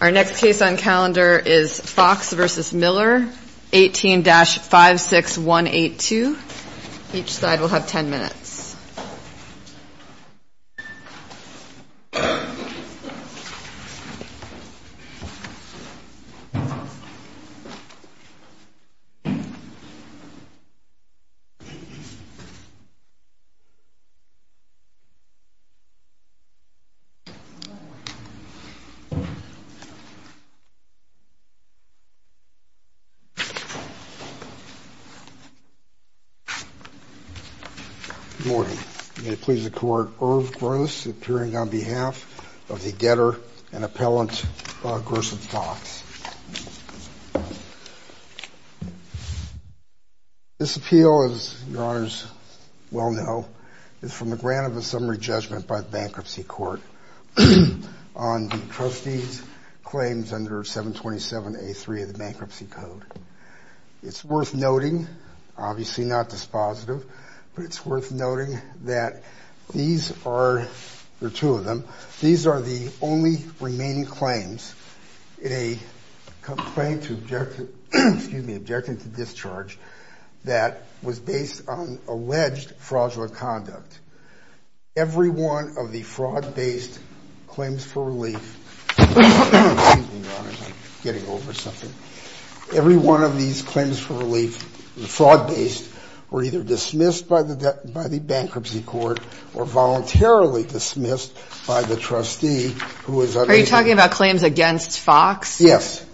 Our next case on calendar is Fox v. Miller 18-56182. Each side will have 10 minutes. Good morning. May it please the court, Irv Gross, appearing on behalf of the getter and appellant, Gerson Fox. This appeal, as your honors well know, is from a grant of a summary judgment by the bankruptcy court on the trustee's claims under 727A3 of the bankruptcy code. It's worth noting, obviously not dispositive, but it's worth noting that these are, there are two of them, these are the only remaining claims in a complaint objecting to discharge that was based on alleged fraudulent conduct. Every one of the fraud-based claims for relief, excuse me, your honors, I'm getting over something. Every one of these claims for relief, fraud-based, were either dismissed by the bankruptcy court or voluntarily dismissed by the trustee who was unable. Are you talking about claims against Fox? Yes.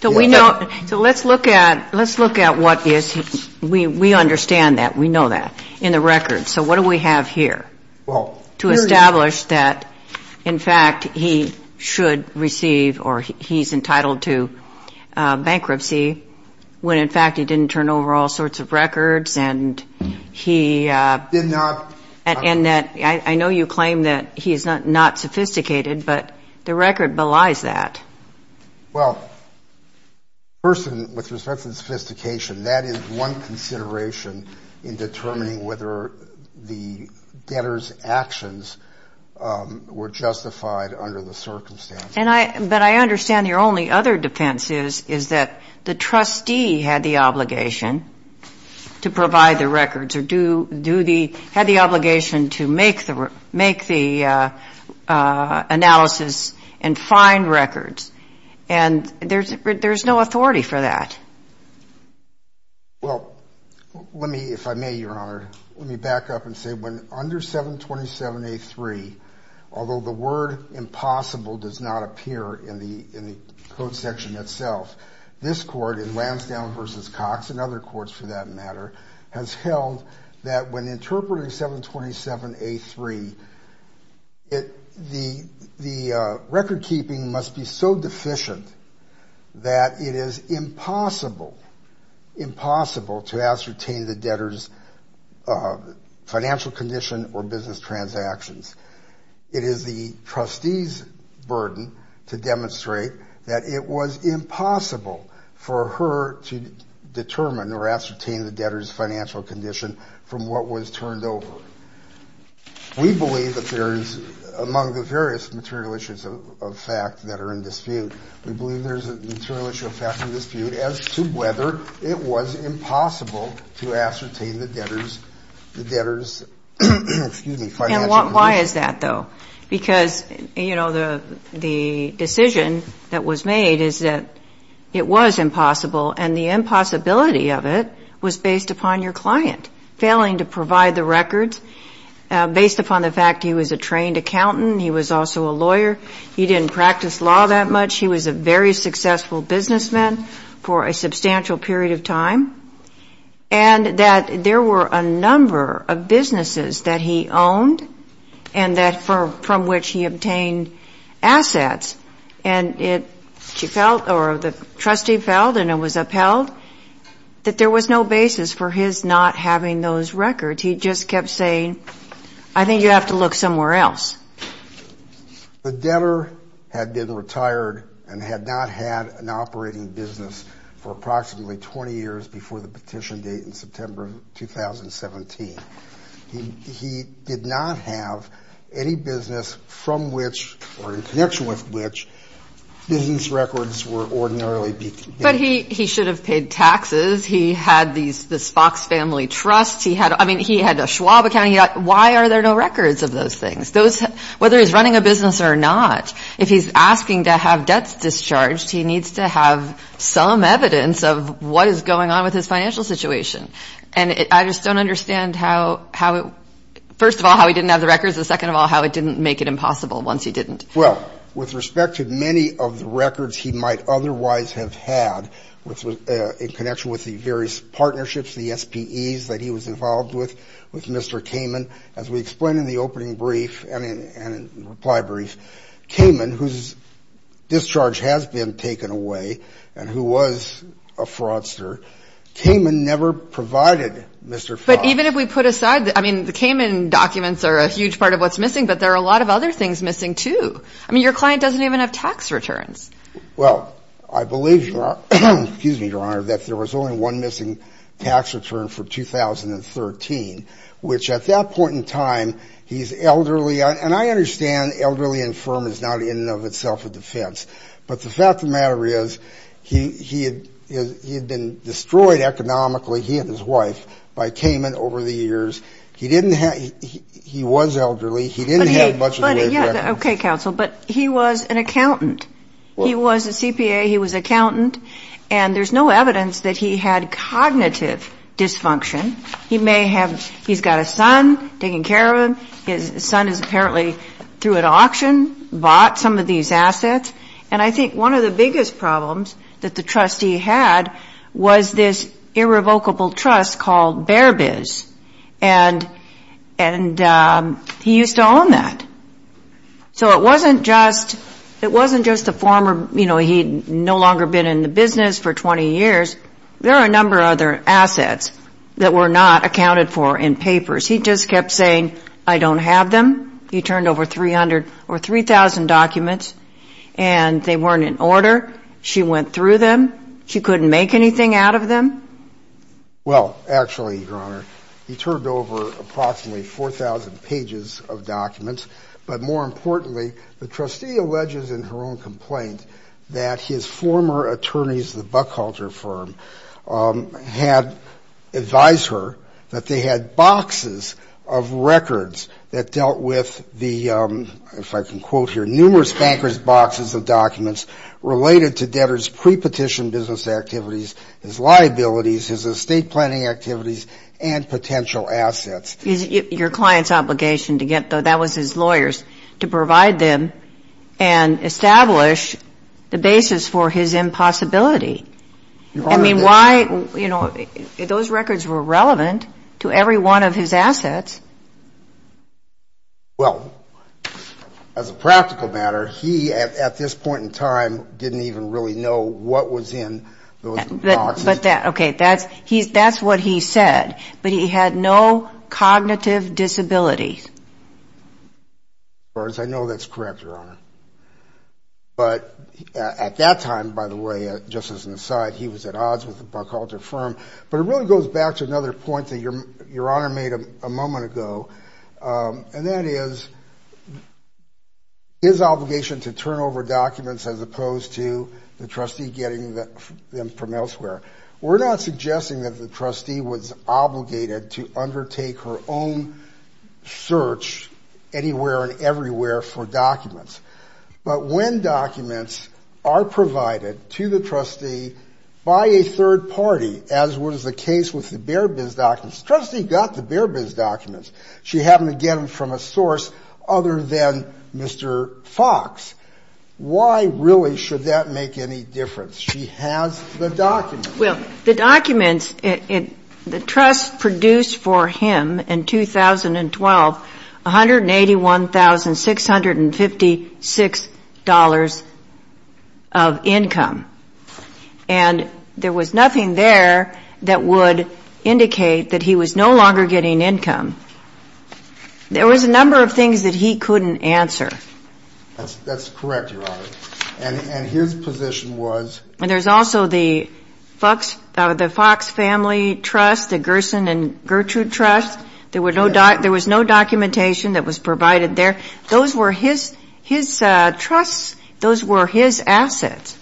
So we know, so let's look at, let's look at what is, we understand that, we know that in the records. So what do we have here to establish that, in fact, he should receive or he's entitled to bankruptcy when, in fact, he didn't turn over all sorts of records and he. Did not. And that, I know you claim that he's not sophisticated, but the record belies that. Well, first, with respect to the sophistication, that is one consideration in determining whether the debtor's actions were justified under the circumstances. And I, but I understand your only other defense is, is that the trustee had the obligation to provide the records or do, do the, had the obligation to make the, make the analysis and find records. And there's, there's no authority for that. Well, let me, if I may, Your Honor, let me back up and say when under 727 a three, although the word impossible does not appear in the, in the code section itself. This court in Lansdowne versus Cox and other courts for that matter has held that when interpreting 727 a three, it, the, the record keeping must be so deficient that it is impossible, impossible to ascertain the debtor's financial condition or business transactions. It is the trustee's burden to demonstrate that it was impossible for her to determine or ascertain the debtor's financial condition from what was turned over. We believe that there is, among the various material issues of fact that are in dispute, we believe there's a material issue of fact in dispute as to whether it was impossible to ascertain the debtor's, the debtor's, excuse me, financial condition. And why is that, though? Because, you know, the, the decision that was made is that it was impossible and the impossibility of it was based upon your client failing to provide the records, based upon the fact he was a trained accountant, he was also a lawyer, he didn't practice law that much, he was a very successful businessman for a substantial period of time. And that there were a number of businesses that he owned and that for, from which he obtained assets and it, she felt or the trustee felt and it was upheld that there was no basis for his not having those records, he just kept saying, I think you have to look somewhere else. The debtor had been retired and had not had an operating business for approximately 20 years before the petition date in September of 2017. He, he did not have any business from which or in connection with which business records were ordinarily. But he, he should have paid taxes. He had these, this Fox Family Trust. He had, I mean, he had a Schwab account. Why are there no records of those things? Those, whether he's running a business or not, if he's asking to have debts discharged, he needs to have some evidence of what is going on with his financial situation. And I just don't understand how, how it, first of all, how he didn't have the records, and second of all, how it didn't make it impossible once he didn't. Well, with respect to many of the records he might otherwise have had, which was in connection with the various partnerships, the SPEs that he was involved with, with Mr. Kamen, as we explained in the opening brief and in, and in reply brief, Kamen, whose discharge has been taken away and who was a fraudster, Kamen never provided Mr. Fox. But even if we put aside, I mean, the Kamen documents are a huge part of what's missing, but there are a lot of other things missing, too. I mean, your client doesn't even have tax returns. Well, I believe, Your Honor, that there was only one missing tax return for 2013, which at that point in time, he's elderly. And I understand elderly and firm is not in and of itself a defense. But the fact of the matter is he had been destroyed economically, he and his wife, by Kamen over the years. He didn't have, he was elderly. He didn't have much of the records. Okay, counsel. But he was an accountant. He was a CPA. He was an accountant. And there's no evidence that he had cognitive dysfunction. He may have, he's got a son taking care of him. His son is apparently through an auction, bought some of these assets. And I think one of the biggest problems that the trustee had was this irrevocable trust called Bear Biz. And he used to own that. So it wasn't just, it wasn't just the former, you know, he'd no longer been in the business for 20 years. There are a number of other assets that were not accounted for in papers. He just kept saying, I don't have them. He turned over 300 or 3,000 documents. And they weren't in order. She went through them. She couldn't make anything out of them. Well, actually, Your Honor, he turned over approximately 4,000 pages of documents. But more importantly, the trustee alleges in her own complaint that his former attorneys, the Buckhalter firm, had advised her that they had boxes of records that dealt with the, if I can quote here, numerous bankers' boxes of documents related to debtors' prepetition business activities, his liabilities, his estate planning activities, and potential assets. Your client's obligation to get those, that was his lawyer's, to provide them and establish the basis for his impossibility. I mean, why, you know, those records were relevant to every one of his assets. Well, as a practical matter, he, at this point in time, didn't even really know what was in those boxes. Okay, that's what he said. But he had no cognitive disability. I know that's correct, Your Honor. But at that time, by the way, just as an aside, he was at odds with the Buckhalter firm. But it really goes back to another point that Your Honor made a moment ago. And that is his obligation to turn over documents as opposed to the trustee getting them from elsewhere. We're not suggesting that the trustee was obligated to undertake her own search anywhere and everywhere for documents. But when documents are provided to the trustee by a third party, as was the case with the Bear Bins documents, the trustee got the Bear Bins documents. She happened to get them from a source other than Mr. Fox. Why really should that make any difference? She has the documents. Well, the documents, the trust produced for him in 2012 $181,656 of income. And there was nothing there that would indicate that he was no longer getting income. There was a number of things that he couldn't answer. That's correct, Your Honor. And his position was? And there's also the Fox Family Trust, the Gerson and Gertrude Trust. There was no documentation that was provided there. Those were his trusts. Those were his assets.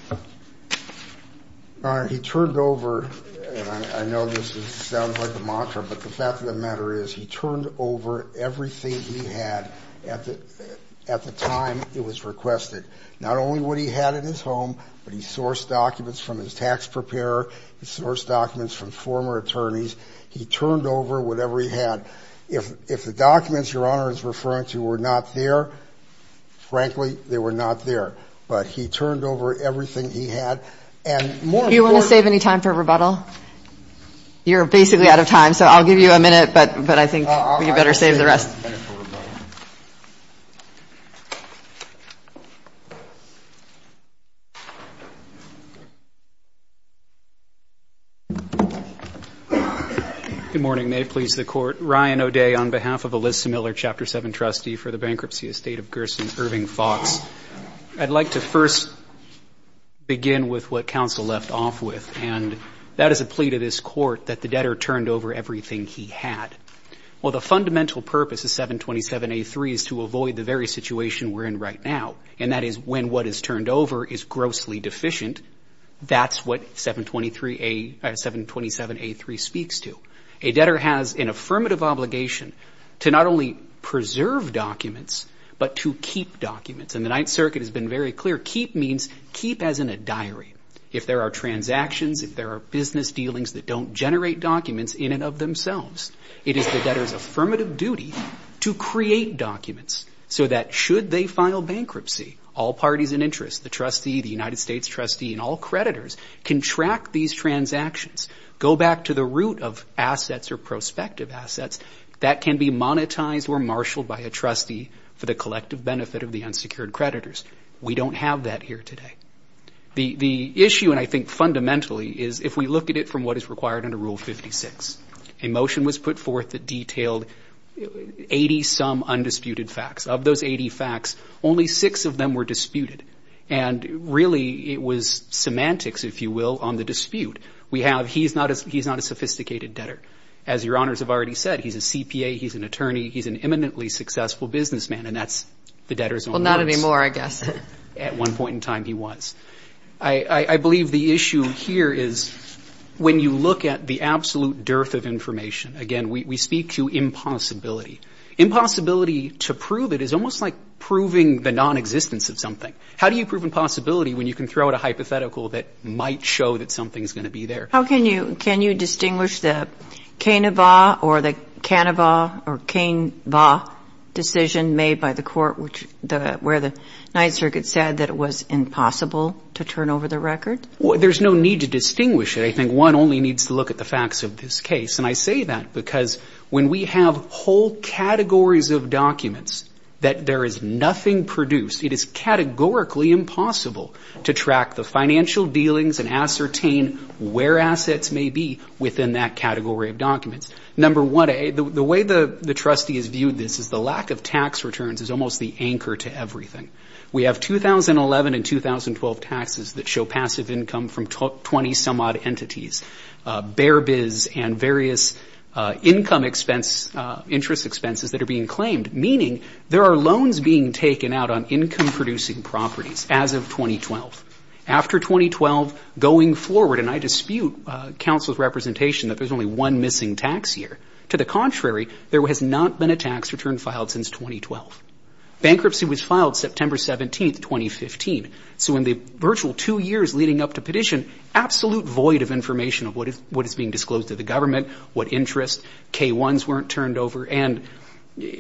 Your Honor, he turned over, and I know this sounds like a mantra, but the fact of the matter is he turned over everything he had at the time it was requested. Not only what he had in his home, but he sourced documents from his tax preparer. He sourced documents from former attorneys. He turned over whatever he had. If the documents Your Honor is referring to were not there, frankly, they were not there. But he turned over everything he had. Do you want to save any time for rebuttal? You're basically out of time, so I'll give you a minute, but I think you better save the rest. Thank you, Your Honor. Good morning. May it please the Court. Ryan O'Day on behalf of Alyssa Miller, Chapter 7 trustee for the bankruptcy estate of Gerson Irving Fox. I'd like to first begin with what counsel left off with, and that is a plea to this court that the debtor turned over everything he had. Well, the fundamental purpose of 727A3 is to avoid the very situation we're in right now, and that is when what is turned over is grossly deficient, that's what 727A3 speaks to. A debtor has an affirmative obligation to not only preserve documents, but to keep documents. And the Ninth Circuit has been very clear, keep means keep as in a diary. If there are transactions, if there are business dealings that don't generate documents in and of themselves, it is the debtor's affirmative duty to create documents so that should they file bankruptcy, all parties in interest, the trustee, the United States trustee, and all creditors can track these transactions, go back to the root of assets or prospective assets that can be monetized or marshaled by a trustee for the collective benefit of the unsecured creditors. We don't have that here today. The issue, and I think fundamentally, is if we look at it from what is required under Rule 56, a motion was put forth that detailed 80-some undisputed facts. Of those 80 facts, only six of them were disputed, and really it was semantics, if you will, on the dispute. We have he's not a sophisticated debtor. As Your Honors have already said, he's a CPA, he's an attorney, he's an eminently successful businessman, and that's the debtor's own words. Well, not anymore, I guess. At one point in time, he was. I believe the issue here is when you look at the absolute dearth of information, again, we speak to impossibility. Impossibility, to prove it, is almost like proving the nonexistence of something. How do you prove impossibility when you can throw out a hypothetical that might show that something's going to be there? How can you distinguish the cane-a-va or the cane-a-va or cane-va decision made by the court, where the Ninth Circuit said that it was impossible to turn over the record? There's no need to distinguish it. I think one only needs to look at the facts of this case, and I say that because when we have whole categories of documents that there is nothing produced, it is categorically impossible to track the financial dealings and ascertain where assets may be within that category of documents. Number one, the way the trustee has viewed this is the lack of tax returns is almost the anchor to everything. We have 2011 and 2012 taxes that show passive income from 20-some-odd entities, bear bids and various income expense, interest expenses that are being claimed, meaning there are loans being taken out on income-producing properties as of 2012. After 2012, going forward, and I dispute counsel's representation that there's only one missing tax year. To the contrary, there has not been a tax return filed since 2012. Bankruptcy was filed September 17, 2015. So in the virtual two years leading up to petition, absolute void of information of what is being disclosed to the government, what interest, K-1s weren't turned over. And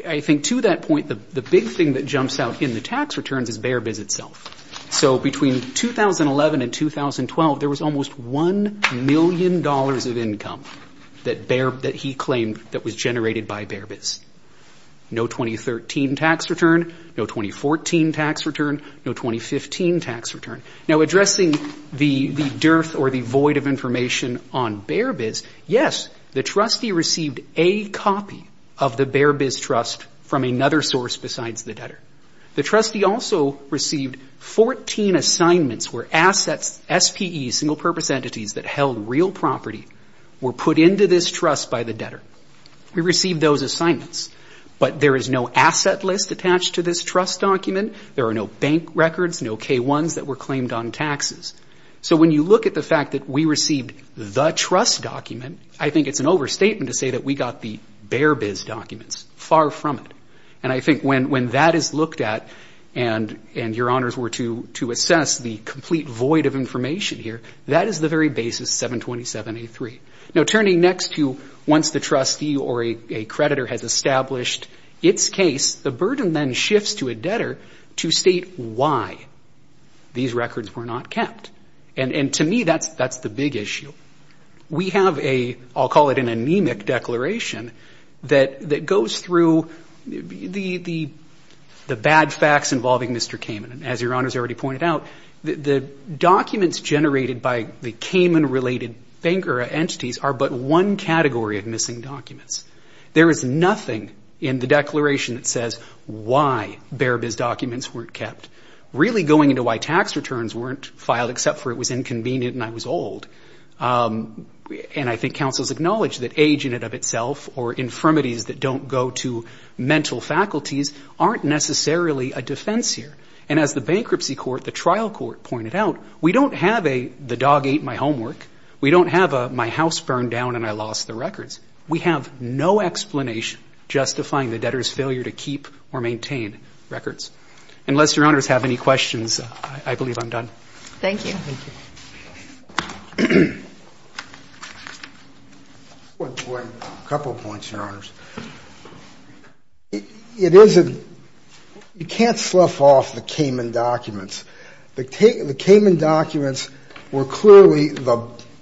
I think to that point, the big thing that jumps out in the tax returns is bear bids itself. So between 2011 and 2012, there was almost $1 million of income that he claimed that was generated by bear bids. No 2013 tax return, no 2014 tax return, no 2015 tax return. Now, addressing the dearth or the void of information on bear bids, yes, the trustee received a copy of the bear bids trust from another source besides the debtor. The trustee also received 14 assignments where assets, SPEs, single-purpose entities that held real property were put into this trust by the debtor. We received those assignments, but there is no asset list attached to this trust document. There are no bank records, no K-1s that were claimed on taxes. So when you look at the fact that we received the trust document, I think it's an overstatement to say that we got the bear bids documents. Far from it. And I think when that is looked at and your honors were to assess the complete void of information here, that is the very basis of 727A3. Now, turning next to once the trustee or a creditor has established its case, the burden then shifts to a debtor to state why these records were not kept. And to me, that's the big issue. We have a, I'll call it an anemic declaration, that goes through the bad facts involving Mr. Kamen. As your honors already pointed out, the documents generated by the Kamen-related entities are but one category of missing documents. There is nothing in the declaration that says why bear bids documents weren't kept. Really going into why tax returns weren't filed except for it was inconvenient and I was old. And I think counsels acknowledge that age in and of itself or infirmities that don't go to mental faculties aren't necessarily a defense here. And as the bankruptcy court, the trial court pointed out, we don't have a the dog ate my homework. We don't have a my house burned down and I lost the records. We have no explanation justifying the debtor's failure to keep or maintain records. Unless your honors have any questions, I believe I'm done. Thank you. A couple of points, your honors. It is, you can't slough off the Kamen documents. The Kamen documents were clearly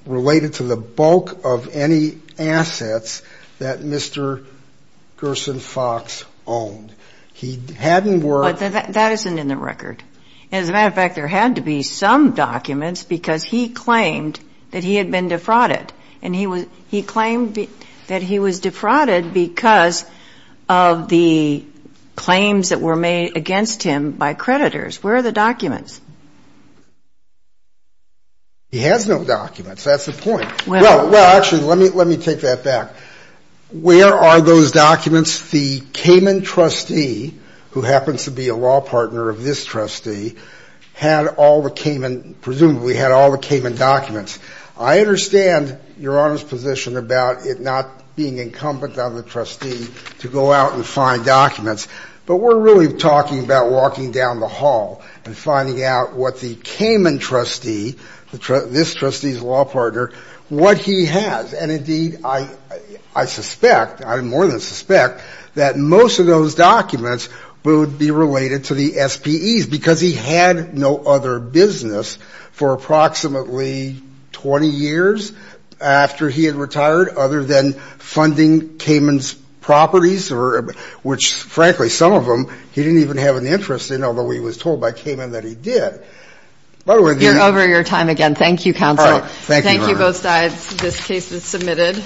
related to the bulk of any assets that Mr. Gerson Fox owned. He hadn't worked. That isn't in the record. As a matter of fact, there had to be some documents because he claimed that he had been defrauded. And he claimed that he was defrauded because of the claims that were made against him by creditors. Where are the documents? He has no documents. That's the point. Well, actually, let me take that back. Where are those documents? The Kamen trustee, who happens to be a law partner of this trustee, had all the Kamen, presumably had all the Kamen documents. I understand your honors' position about it not being incumbent on the trustee to go out and find documents. But we're really talking about walking down the hall and finding out what the Kamen trustee, this trustee's law partner, what he has. And, indeed, I suspect, I more than suspect, that most of those documents would be related to the SPEs because he had no other business for approximately 20 years after he had retired other than funding Kamen's properties, which, frankly, some of them he didn't even have an interest in, although he was told by Kamen that he did. You're over your time again. Thank you, Your Honor. This case is submitted.